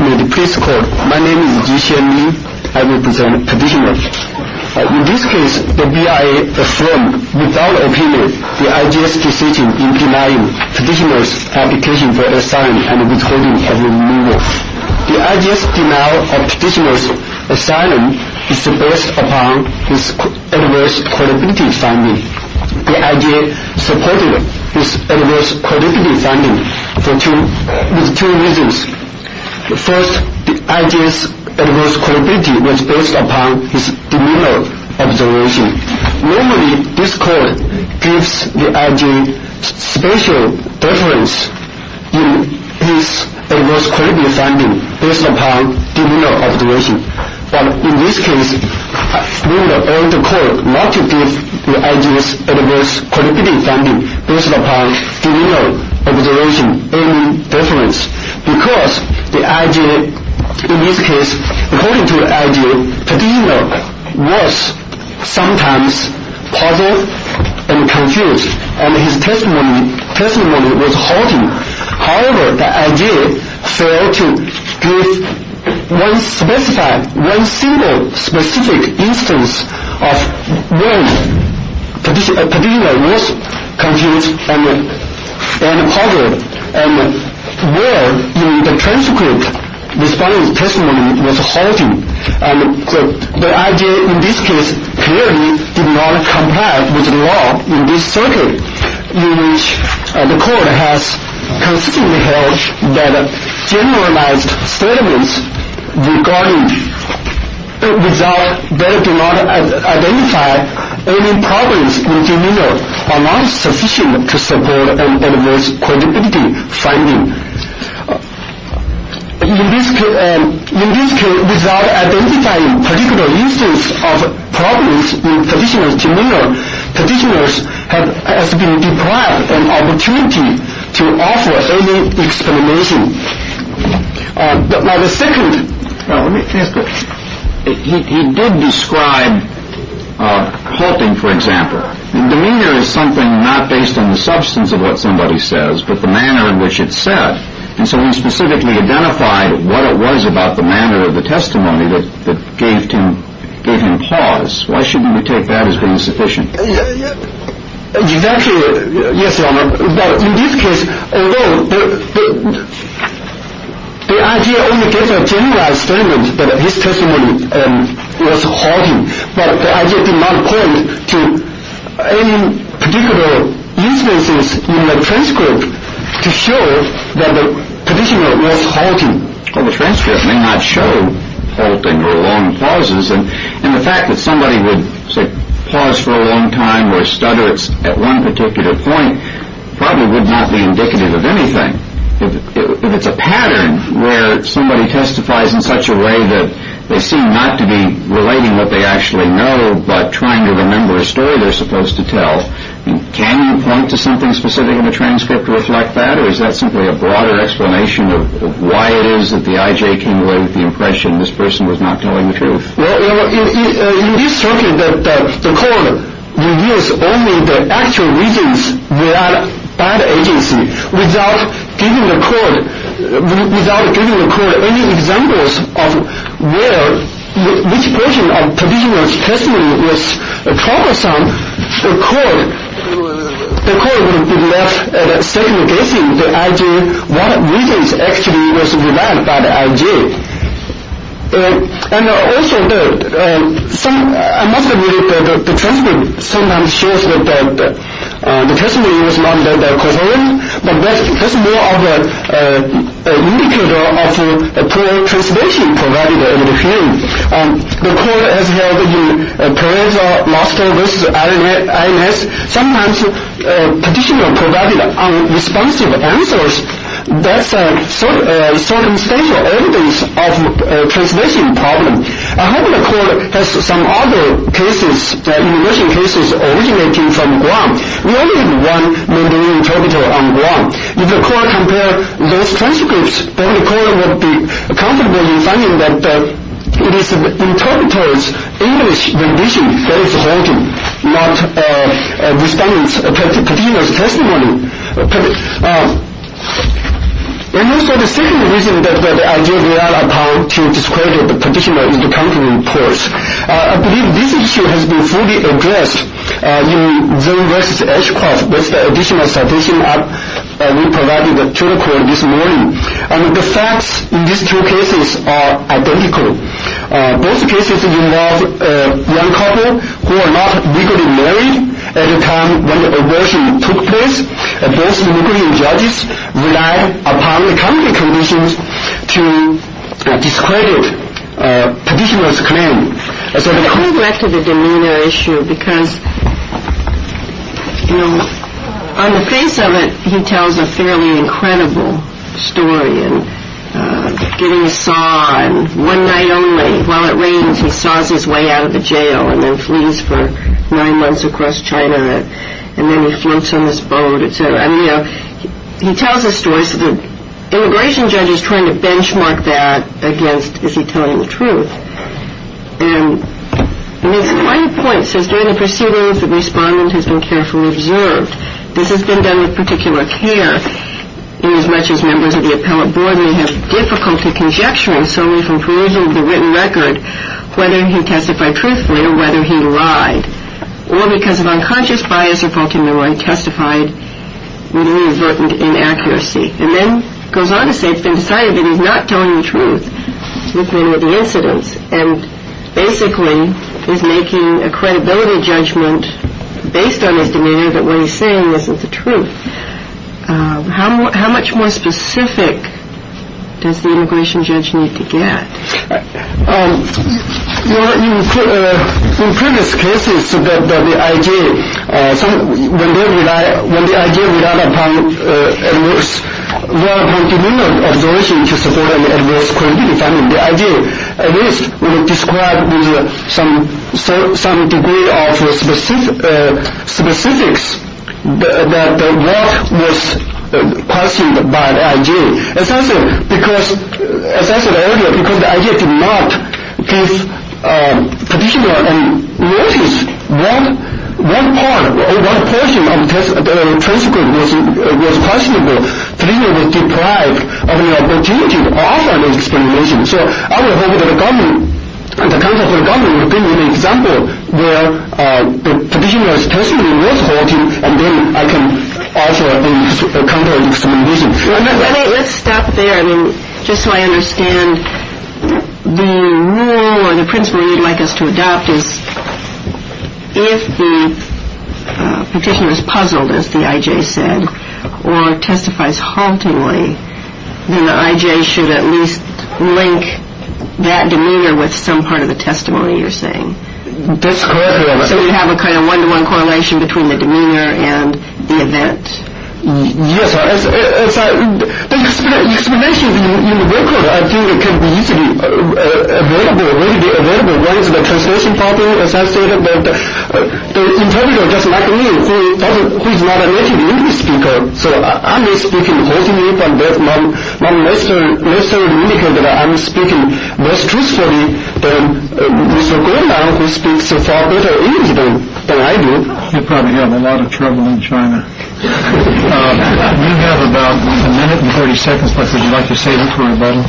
May the priest call. My name is Yixuan Lin. I represent petitioners. In this case, the BIA performed, without opinion, the IJS decision in denying petitioners' application for asylum and withholding of removal. The IJS denial of petitioners' asylum is based upon its adverse credibility finding. The IJS supported its adverse credibility finding for two reasons. First, the IJS adverse credibility was based upon its demeanor observation. Normally, this court gives the IJS special preference in its adverse credibility finding based upon demeanor observation. But in this case, we would urge the court not to give the IJS adverse credibility finding based upon demeanor observation, any difference. Because the IJS, in this case, according to the IJS, the petitioner was sometimes puzzled and confused, and his testimony was haunting. However, the IJS failed to give one single specific instance of when the petitioner was confused and puzzled, and where in the transcript the testimony was haunting. The IJS, in this case, clearly did not comply with the law in this circuit, in which the court has consistently held that generalized statements that do not identify any problems in demeanor are not sufficient to support an adverse credibility finding. In this case, without identifying particular instances of problems in petitioner's demeanor, petitioner has been deprived an opportunity to offer any explanation. He did describe haunting, for example. Demeanor is something not based on the substance of what somebody says, but the manner in which it's said. And so when specifically identified what it was about the manner of the testimony that gave him pause, why shouldn't we take that as being sufficient? Exactly. Yes, Your Honor. But in this case, although the IJS only gave a generalized statement that his testimony was haunting, but the IJS did not point to any particular instances in the transcript to show that the petitioner was haunting. Well, the transcript may not show haunting or long pauses, and the fact that somebody would, say, pause for a long time or stutter at one particular point probably would not be indicative of anything. If it's a pattern where somebody testifies in such a way that they seem not to be relating what they actually know, but trying to remember a story they're supposed to tell, can you point to something specific in the transcript to reflect that? Or is that simply a broader explanation of why it is that the IJS came away with the impression that this person was not telling the truth? Well, in this circuit, the court reveals only the actual reasons relied by the agency. Without giving the court any examples of which version of the petitioner's testimony was troublesome, the court would be left second-guessing the IJS, what reasons actually was relied by the IJS. And also, I must admit that the transcript sometimes shows that the testimony was not that coherent, but that's more of an indicator of poor translation provided in the hearing. The court has held in pareza, master versus IJS, sometimes petitioner provided unresponsive answers. That's circumstantial evidence of a translation problem. I hope the court has some other cases, immigration cases, originating from Guam. We only have one Mandarin interpreter on Guam. If the court compared those transcripts, then the court would be comfortable in finding that it is the interpreter's English rendition that is haunting, not the respondent's petitioner's testimony. And also, the second reason that the IJS relied upon to discredit the petitioner is the counter-reports. I believe this issue has been fully addressed in Zoom versus Ashcroft. That's the additional citation we provided to the court this morning. And the facts in these two cases are identical. Those cases involve one couple who are not legally married at the time when the abortion took place. And those legal judges relied upon the counter conditions to discredit petitioner's claim. I want to go back to the demeanor issue because, you know, on the face of it, he tells a fairly incredible story. And getting a saw, and one night only, while it rains, he saws his way out of the jail and then flees for nine months across China. And then he floats on this boat, et cetera. He tells his story, so the immigration judge is trying to benchmark that against, is he telling the truth? And he makes a funny point. He says, during the proceedings, the respondent has been carefully observed. This has been done with particular care, inasmuch as members of the appellate board may have difficulty conjecturing solely from perusing the written record whether he testified truthfully or whether he lied. Or because of unconscious bias or faulty memory, testified with reverent inaccuracy. And then goes on to say it's been decided that he's not telling the truth with the incidents. And basically, he's making a credibility judgment based on his demeanor that what he's saying isn't the truth. How much more specific does the immigration judge need to get? In previous cases, when the IJ relied upon preliminary observation to support an adverse credibility finding, the IJ at least would have described with some degree of specifics that what was questioned by the IJ. Essentially, as I said earlier, because the IJ did not give the petitioner a notice of what portion of the transcript was questionable, the petitioner was deprived of the opportunity to offer an explanation. So I would hope that the government, the counsel for the government, would give me an example where the petitioner's testimony was holding, and then I can offer a counter-explanation. Let's stop there. Just so I understand, the rule or the principle you'd like us to adopt is if the petitioner is puzzled, as the IJ said, or testifies haltingly, then the IJ should at least link that demeanor with some part of the testimony you're saying. So you have a kind of one-to-one correlation between the demeanor and the event? Yes. The explanations in the record, I think, can be easily available, readily available. One is the translation problem, as I said, but the interpreter, just like me, who is not a native English speaker, so I'm not speaking falsely, but that's not necessary to indicate that I'm speaking less truthfully than Mr. Goldman, who speaks so far better English than I do. You're probably having a lot of trouble in China. You have about a minute and 30 seconds, but would you like to say something about it?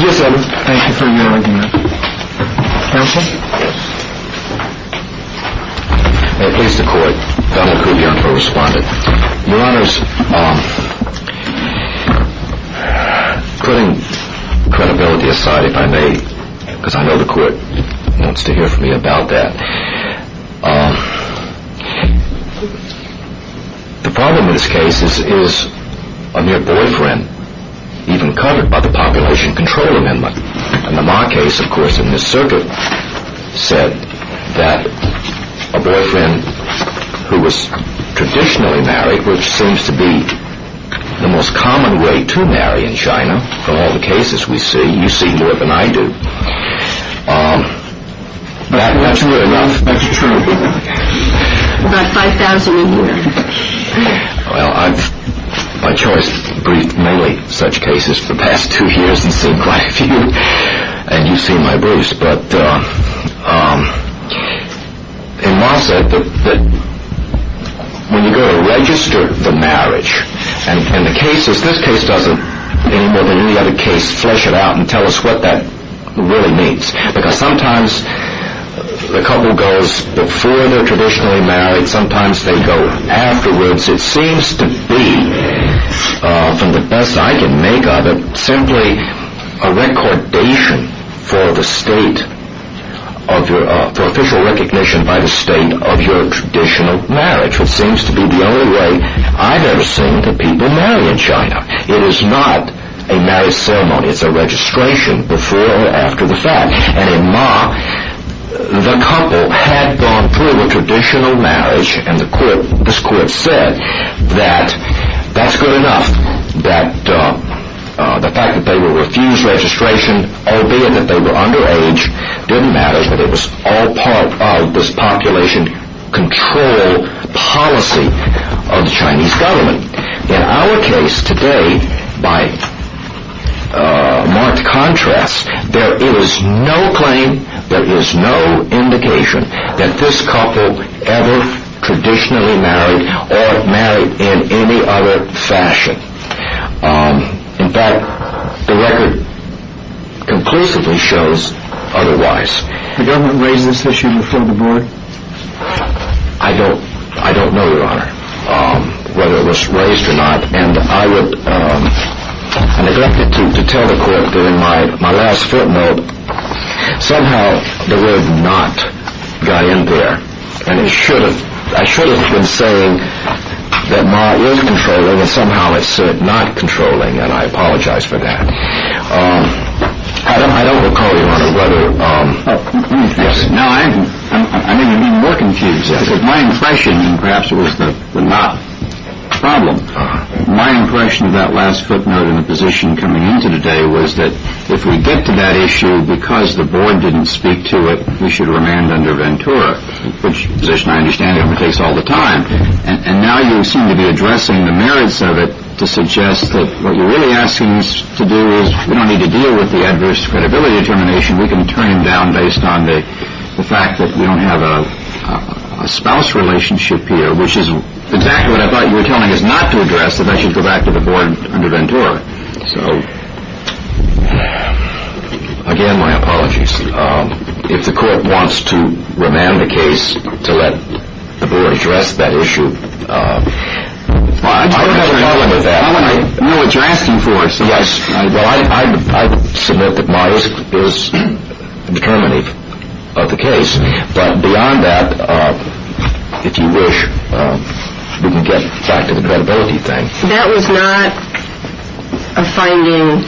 Yes, I would. Thank you for your argument. Counsel? Yes. May it please the Court, Donald Kube, your correspondent. Your Honors, putting credibility aside, if I may, because I know the Court wants to hear from me about that. The problem in this case is a near-boyfriend, even covered by the Population Control Amendment. And the Ma case, of course, in this circuit, said that a boyfriend who was traditionally married, which seems to be the most common way to marry in China from all the cases we see, you see more than I do. That's true. About 5,000 a year. Well, I've, by choice, briefed many such cases for the past two years and seen quite a few, and you've seen my briefs. But in my set, when you go to register the marriage, and the cases, this case doesn't, any more than any other case, flesh it out and tell us what that really means. Because sometimes the couple goes before they're traditionally married, sometimes they go afterwards. It seems to be, from the best I can make of it, simply a recordation for the state of your, for official recognition by the state of your traditional marriage. It seems to be the only way I've ever seen the people marry in China. It is not a marriage ceremony. It's a registration before or after the fact. And in Ma, the couple had gone through a traditional marriage, and the court, this court said that that's good enough. That the fact that they were refused registration, albeit that they were underage, didn't matter that it was all part of this population control policy of the Chinese government. In our case today, by marked contrast, there is no claim, there is no indication, that this couple ever traditionally married or married in any other fashion. In fact, the record conclusively shows otherwise. The government raised this issue before the board? I don't, I don't know, Your Honor, whether it was raised or not. And I would, I neglected to tell the court during my last footnote, somehow the word not got in there. And it should have, I should have been saying that Ma is controlling, and somehow it said not controlling, and I apologize for that. I don't recall, Your Honor, whether, yes? No, I'm even more confused. My impression, and perhaps it was the not problem, my impression of that last footnote and the position coming into today was that if we get to that issue because the board didn't speak to it, we should remand under Ventura, which is a position I understand it takes all the time. And now you seem to be addressing the merits of it to suggest that what you're really asking us to do is, we don't need to deal with the adverse credibility determination, we can turn it down based on the fact that we don't have a spouse relationship here, which is exactly what I thought you were telling us not to address, and I should go back to the board under Ventura. So, again, my apologies. If the court wants to remand the case to let the board address that issue. I don't have a problem with that. I know what you're asking for. Yes. Well, I submit that Myers is determinative of the case, but beyond that, if you wish, we can get back to the credibility thing. That was not a finding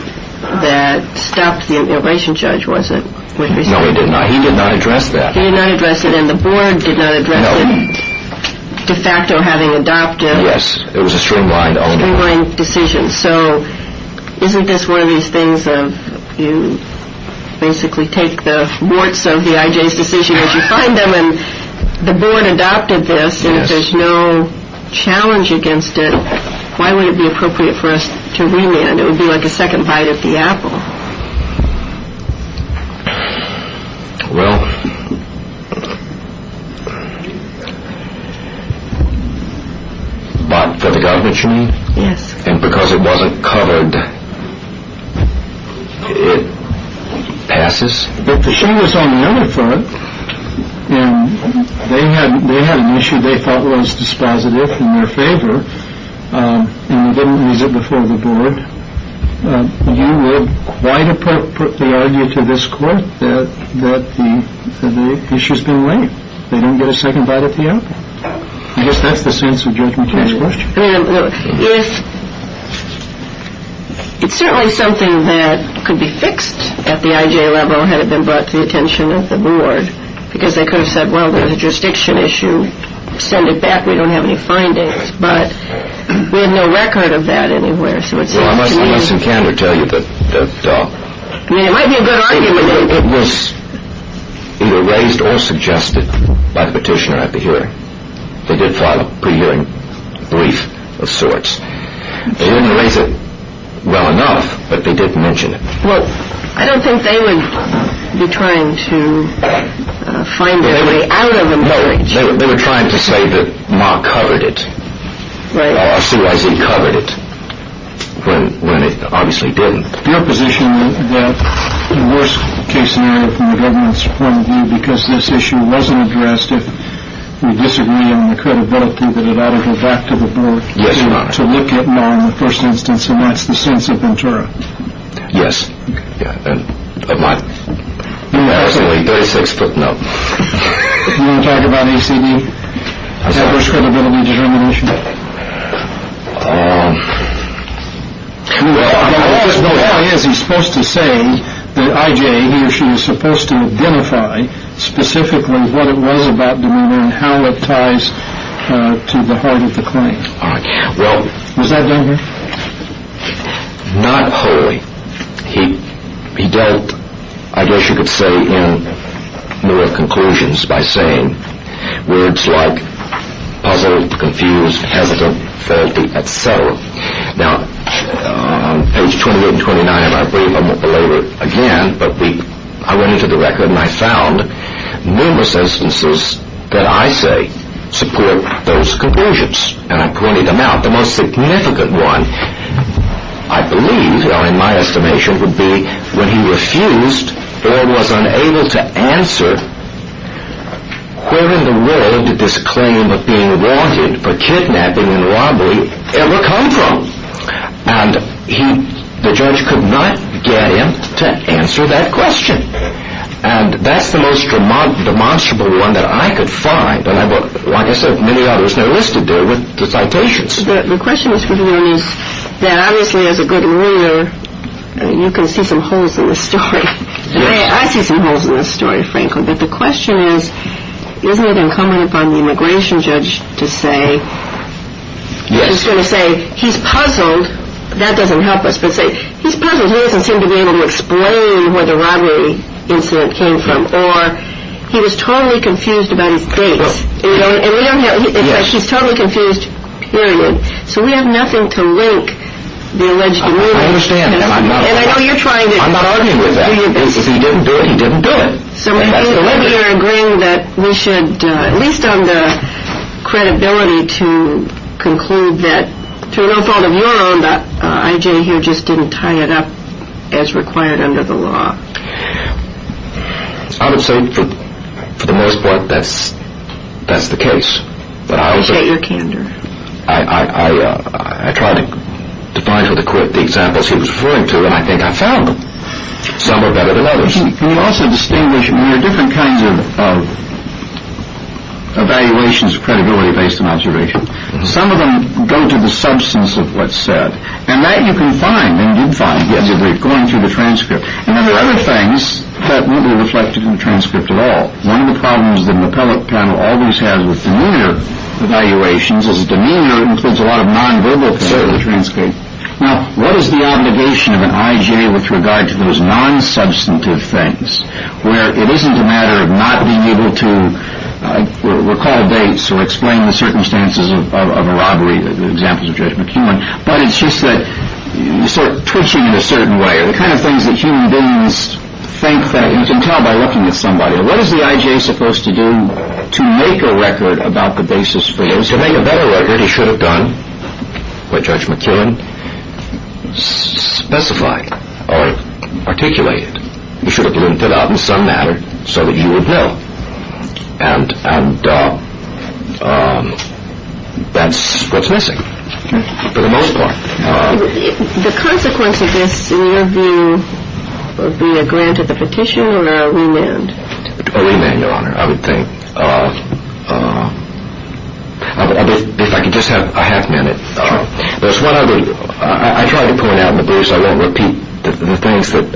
that stopped the immigration judge, was it? No, it did not. He did not address that. He did not address it, and the board did not address it, de facto having adopted. Yes, it was a streamlined decision. So isn't this one of these things of you basically take the warts of the IJ's decision as you find them, and the board adopted this, and if there's no challenge against it, why would it be appropriate for us to remand? It would be like a second bite of the apple. Well, but for the government, you mean? Yes. And because it wasn't covered, it passes? But the thing is on the other front, they had an issue they thought was dispositive in their favor, and they didn't use it before the board. You would quite appropriately argue to this court that the issue's been laid. They don't get a second bite of the apple. I guess that's the sense of Judgment Day's question. It's certainly something that could be fixed at the IJ level had it been brought to the attention of the board, because they could have said, well, there's a jurisdiction issue. Send it back. We don't have any findings. But we have no record of that anywhere. So it seems to me. Well, I must in candor tell you that. I mean, it might be a good argument. It was either raised or suggested by the petitioner at the hearing. They did file a pre-hearing brief of sorts. They didn't raise it well enough, but they did mention it. Well, I don't think they would be trying to find their way out of a marriage. They were trying to say that Ma covered it, or CYZ covered it, when it obviously didn't. Your position is that the worst case scenario from the government's point of view, because this issue wasn't addressed if we disagree on the credibility that it ought to go back to the board, to look at Ma in the first instance, and that's the sense of Ventura. Yes. Am I? You're absolutely 36 foot. No. You want to talk about ACD? What's that? First Credibility Determination. How is he supposed to say that IJ, he or she, is supposed to identify specifically what it was about the woman and how it ties to the heart of the claim? All right. Was that done here? Not wholly. He dealt, I guess you could say, in more conclusions by saying words like puzzled, confused, hesitant, faulty, etc. Now, page 28 and 29, and I believe I won't belabor it again, but I went into the record and I found numerous instances that I say support those conclusions, and I pointed them out. Not the most significant one, I believe, in my estimation, would be when he refused or was unable to answer where in the world did this claim of being wanted for kidnapping and robbery ever come from? And the judge could not get him to answer that question. And that's the most demonstrable one that I could find. And like I said, many others are listed there with the citations. The question is that obviously as a good reader, you can see some holes in the story. I see some holes in the story, frankly. But the question is, isn't it incumbent upon the immigration judge to say, he's going to say he's puzzled, that doesn't help us, but say he's puzzled, he doesn't seem to be able to explain where the robbery incident came from, or he was totally confused about his dates. He's totally confused, period. So we have nothing to link the alleged murder. I understand, and I'm not arguing with that. If he didn't do it, he didn't do it. So maybe you're agreeing that we should, at least on the credibility, to conclude that through no fault of your own, that I.J. here just didn't tie it up as required under the law. I would say for the most part that's the case. I appreciate your candor. I tried to find for the court the examples he was referring to, and I think I found them. Some are better than others. Can you also distinguish, I mean, there are different kinds of evaluations of credibility based on observation. Some of them go to the substance of what's said, and that you can find, and did find, going through the transcript. And then there are other things that won't be reflected in the transcript at all. One of the problems that an appellate panel always has with demeanor evaluations is demeanor includes a lot of nonverbal things in the transcript. Now, what is the obligation of an I.J. with regard to those nonsubstantive things, where it isn't a matter of not being able to recall dates or explain the circumstances of a robbery, the examples of Judge McKeown, but it's just that you start twitching in a certain way, the kind of things that human beings think that you can tell by looking at somebody. What is the I.J. supposed to do to make a record about the basis for you, To make a better record, he should have done what Judge McKeown specified or articulated. He should have linted out in some manner so that you would know. And that's what's missing for the most part. The consequence of this, in your view, would be a grant of the petition or a remand? A remand, Your Honor. I would think, if I could just have a half minute. There's one other, I try to point out in the briefs, I won't repeat the things that,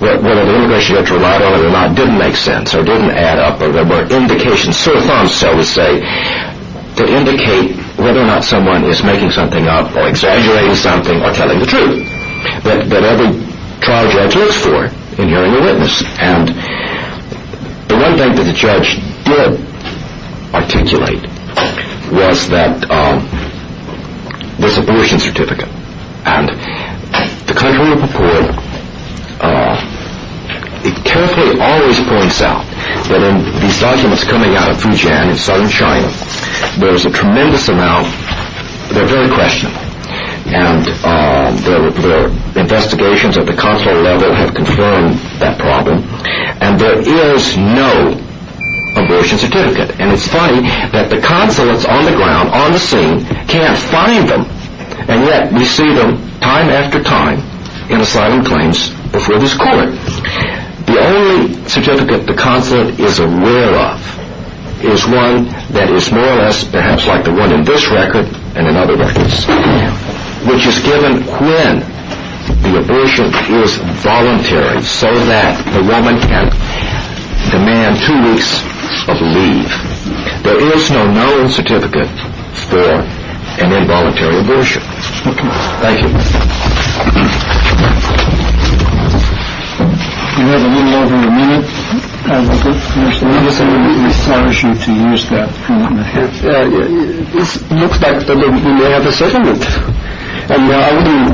whether the immigration judge relied on it or not didn't make sense or didn't add up or there were indications, so far so to say, that indicate whether or not someone is making something up or exaggerating something or telling the truth that every trial judge looks for in hearing a witness. And the one thing that the judge did articulate was that there's an abortion certificate. And the control report, it carefully always points out that in these documents coming out of Fujian, in southern China, there's a tremendous amount, they're very questionable. And the investigations at the consulate level have confirmed that problem. And there is no abortion certificate. And it's funny that the consulates on the ground, on the scene, can't find them. And yet we see them time after time in asylum claims before this court. The only certificate the consulate is aware of is one that is more or less, perhaps like the one in this record and in other records, which is given when the abortion is voluntary so that the woman can demand two weeks of leave. There is no known certificate for an involuntary abortion. Thank you. You have a little more than a minute. Okay. We just want to encourage you to use that. It looks like we may have a settlement. And I wouldn't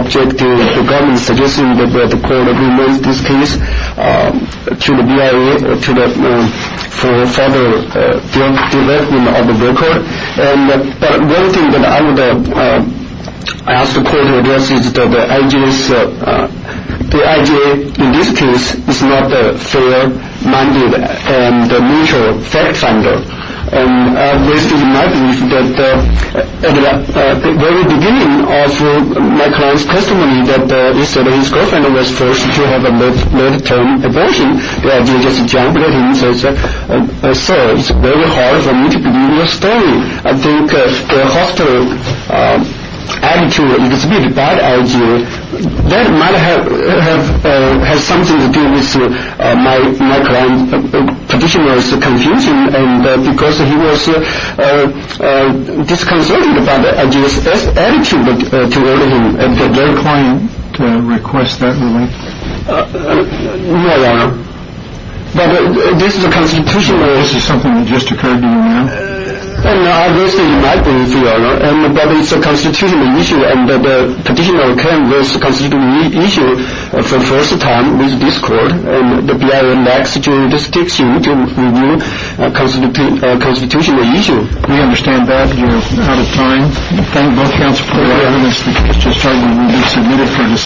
object to the government suggesting that we have to call an agreement in this case to the BIA for further development of the record. But one thing that I would ask the court to address is that the IJ in this case is not a fair-minded and neutral fact finder. And this is my belief that at the very beginning of my client's testimony, that he said his girlfriend was forced to have a mid-term abortion. So it's very hard for me to believe your story. I think the hostile attitude exhibited by the IJ, that might have something to do with my client's position was confusing because he was disconcerted by the IJ's attitude toward him. And did their client request that ruling? No, Your Honor. But this is a constitutional issue, something that just occurred to me. Obviously, it might be, Your Honor. But it's a constitutional issue. And the petitioner came with a constitutional issue for the first time with this court. And the BIA lacks jurisdiction to review a constitutional issue. We understand that. You're out of time. Thank you, Your Honor. Thank you, Your Honor.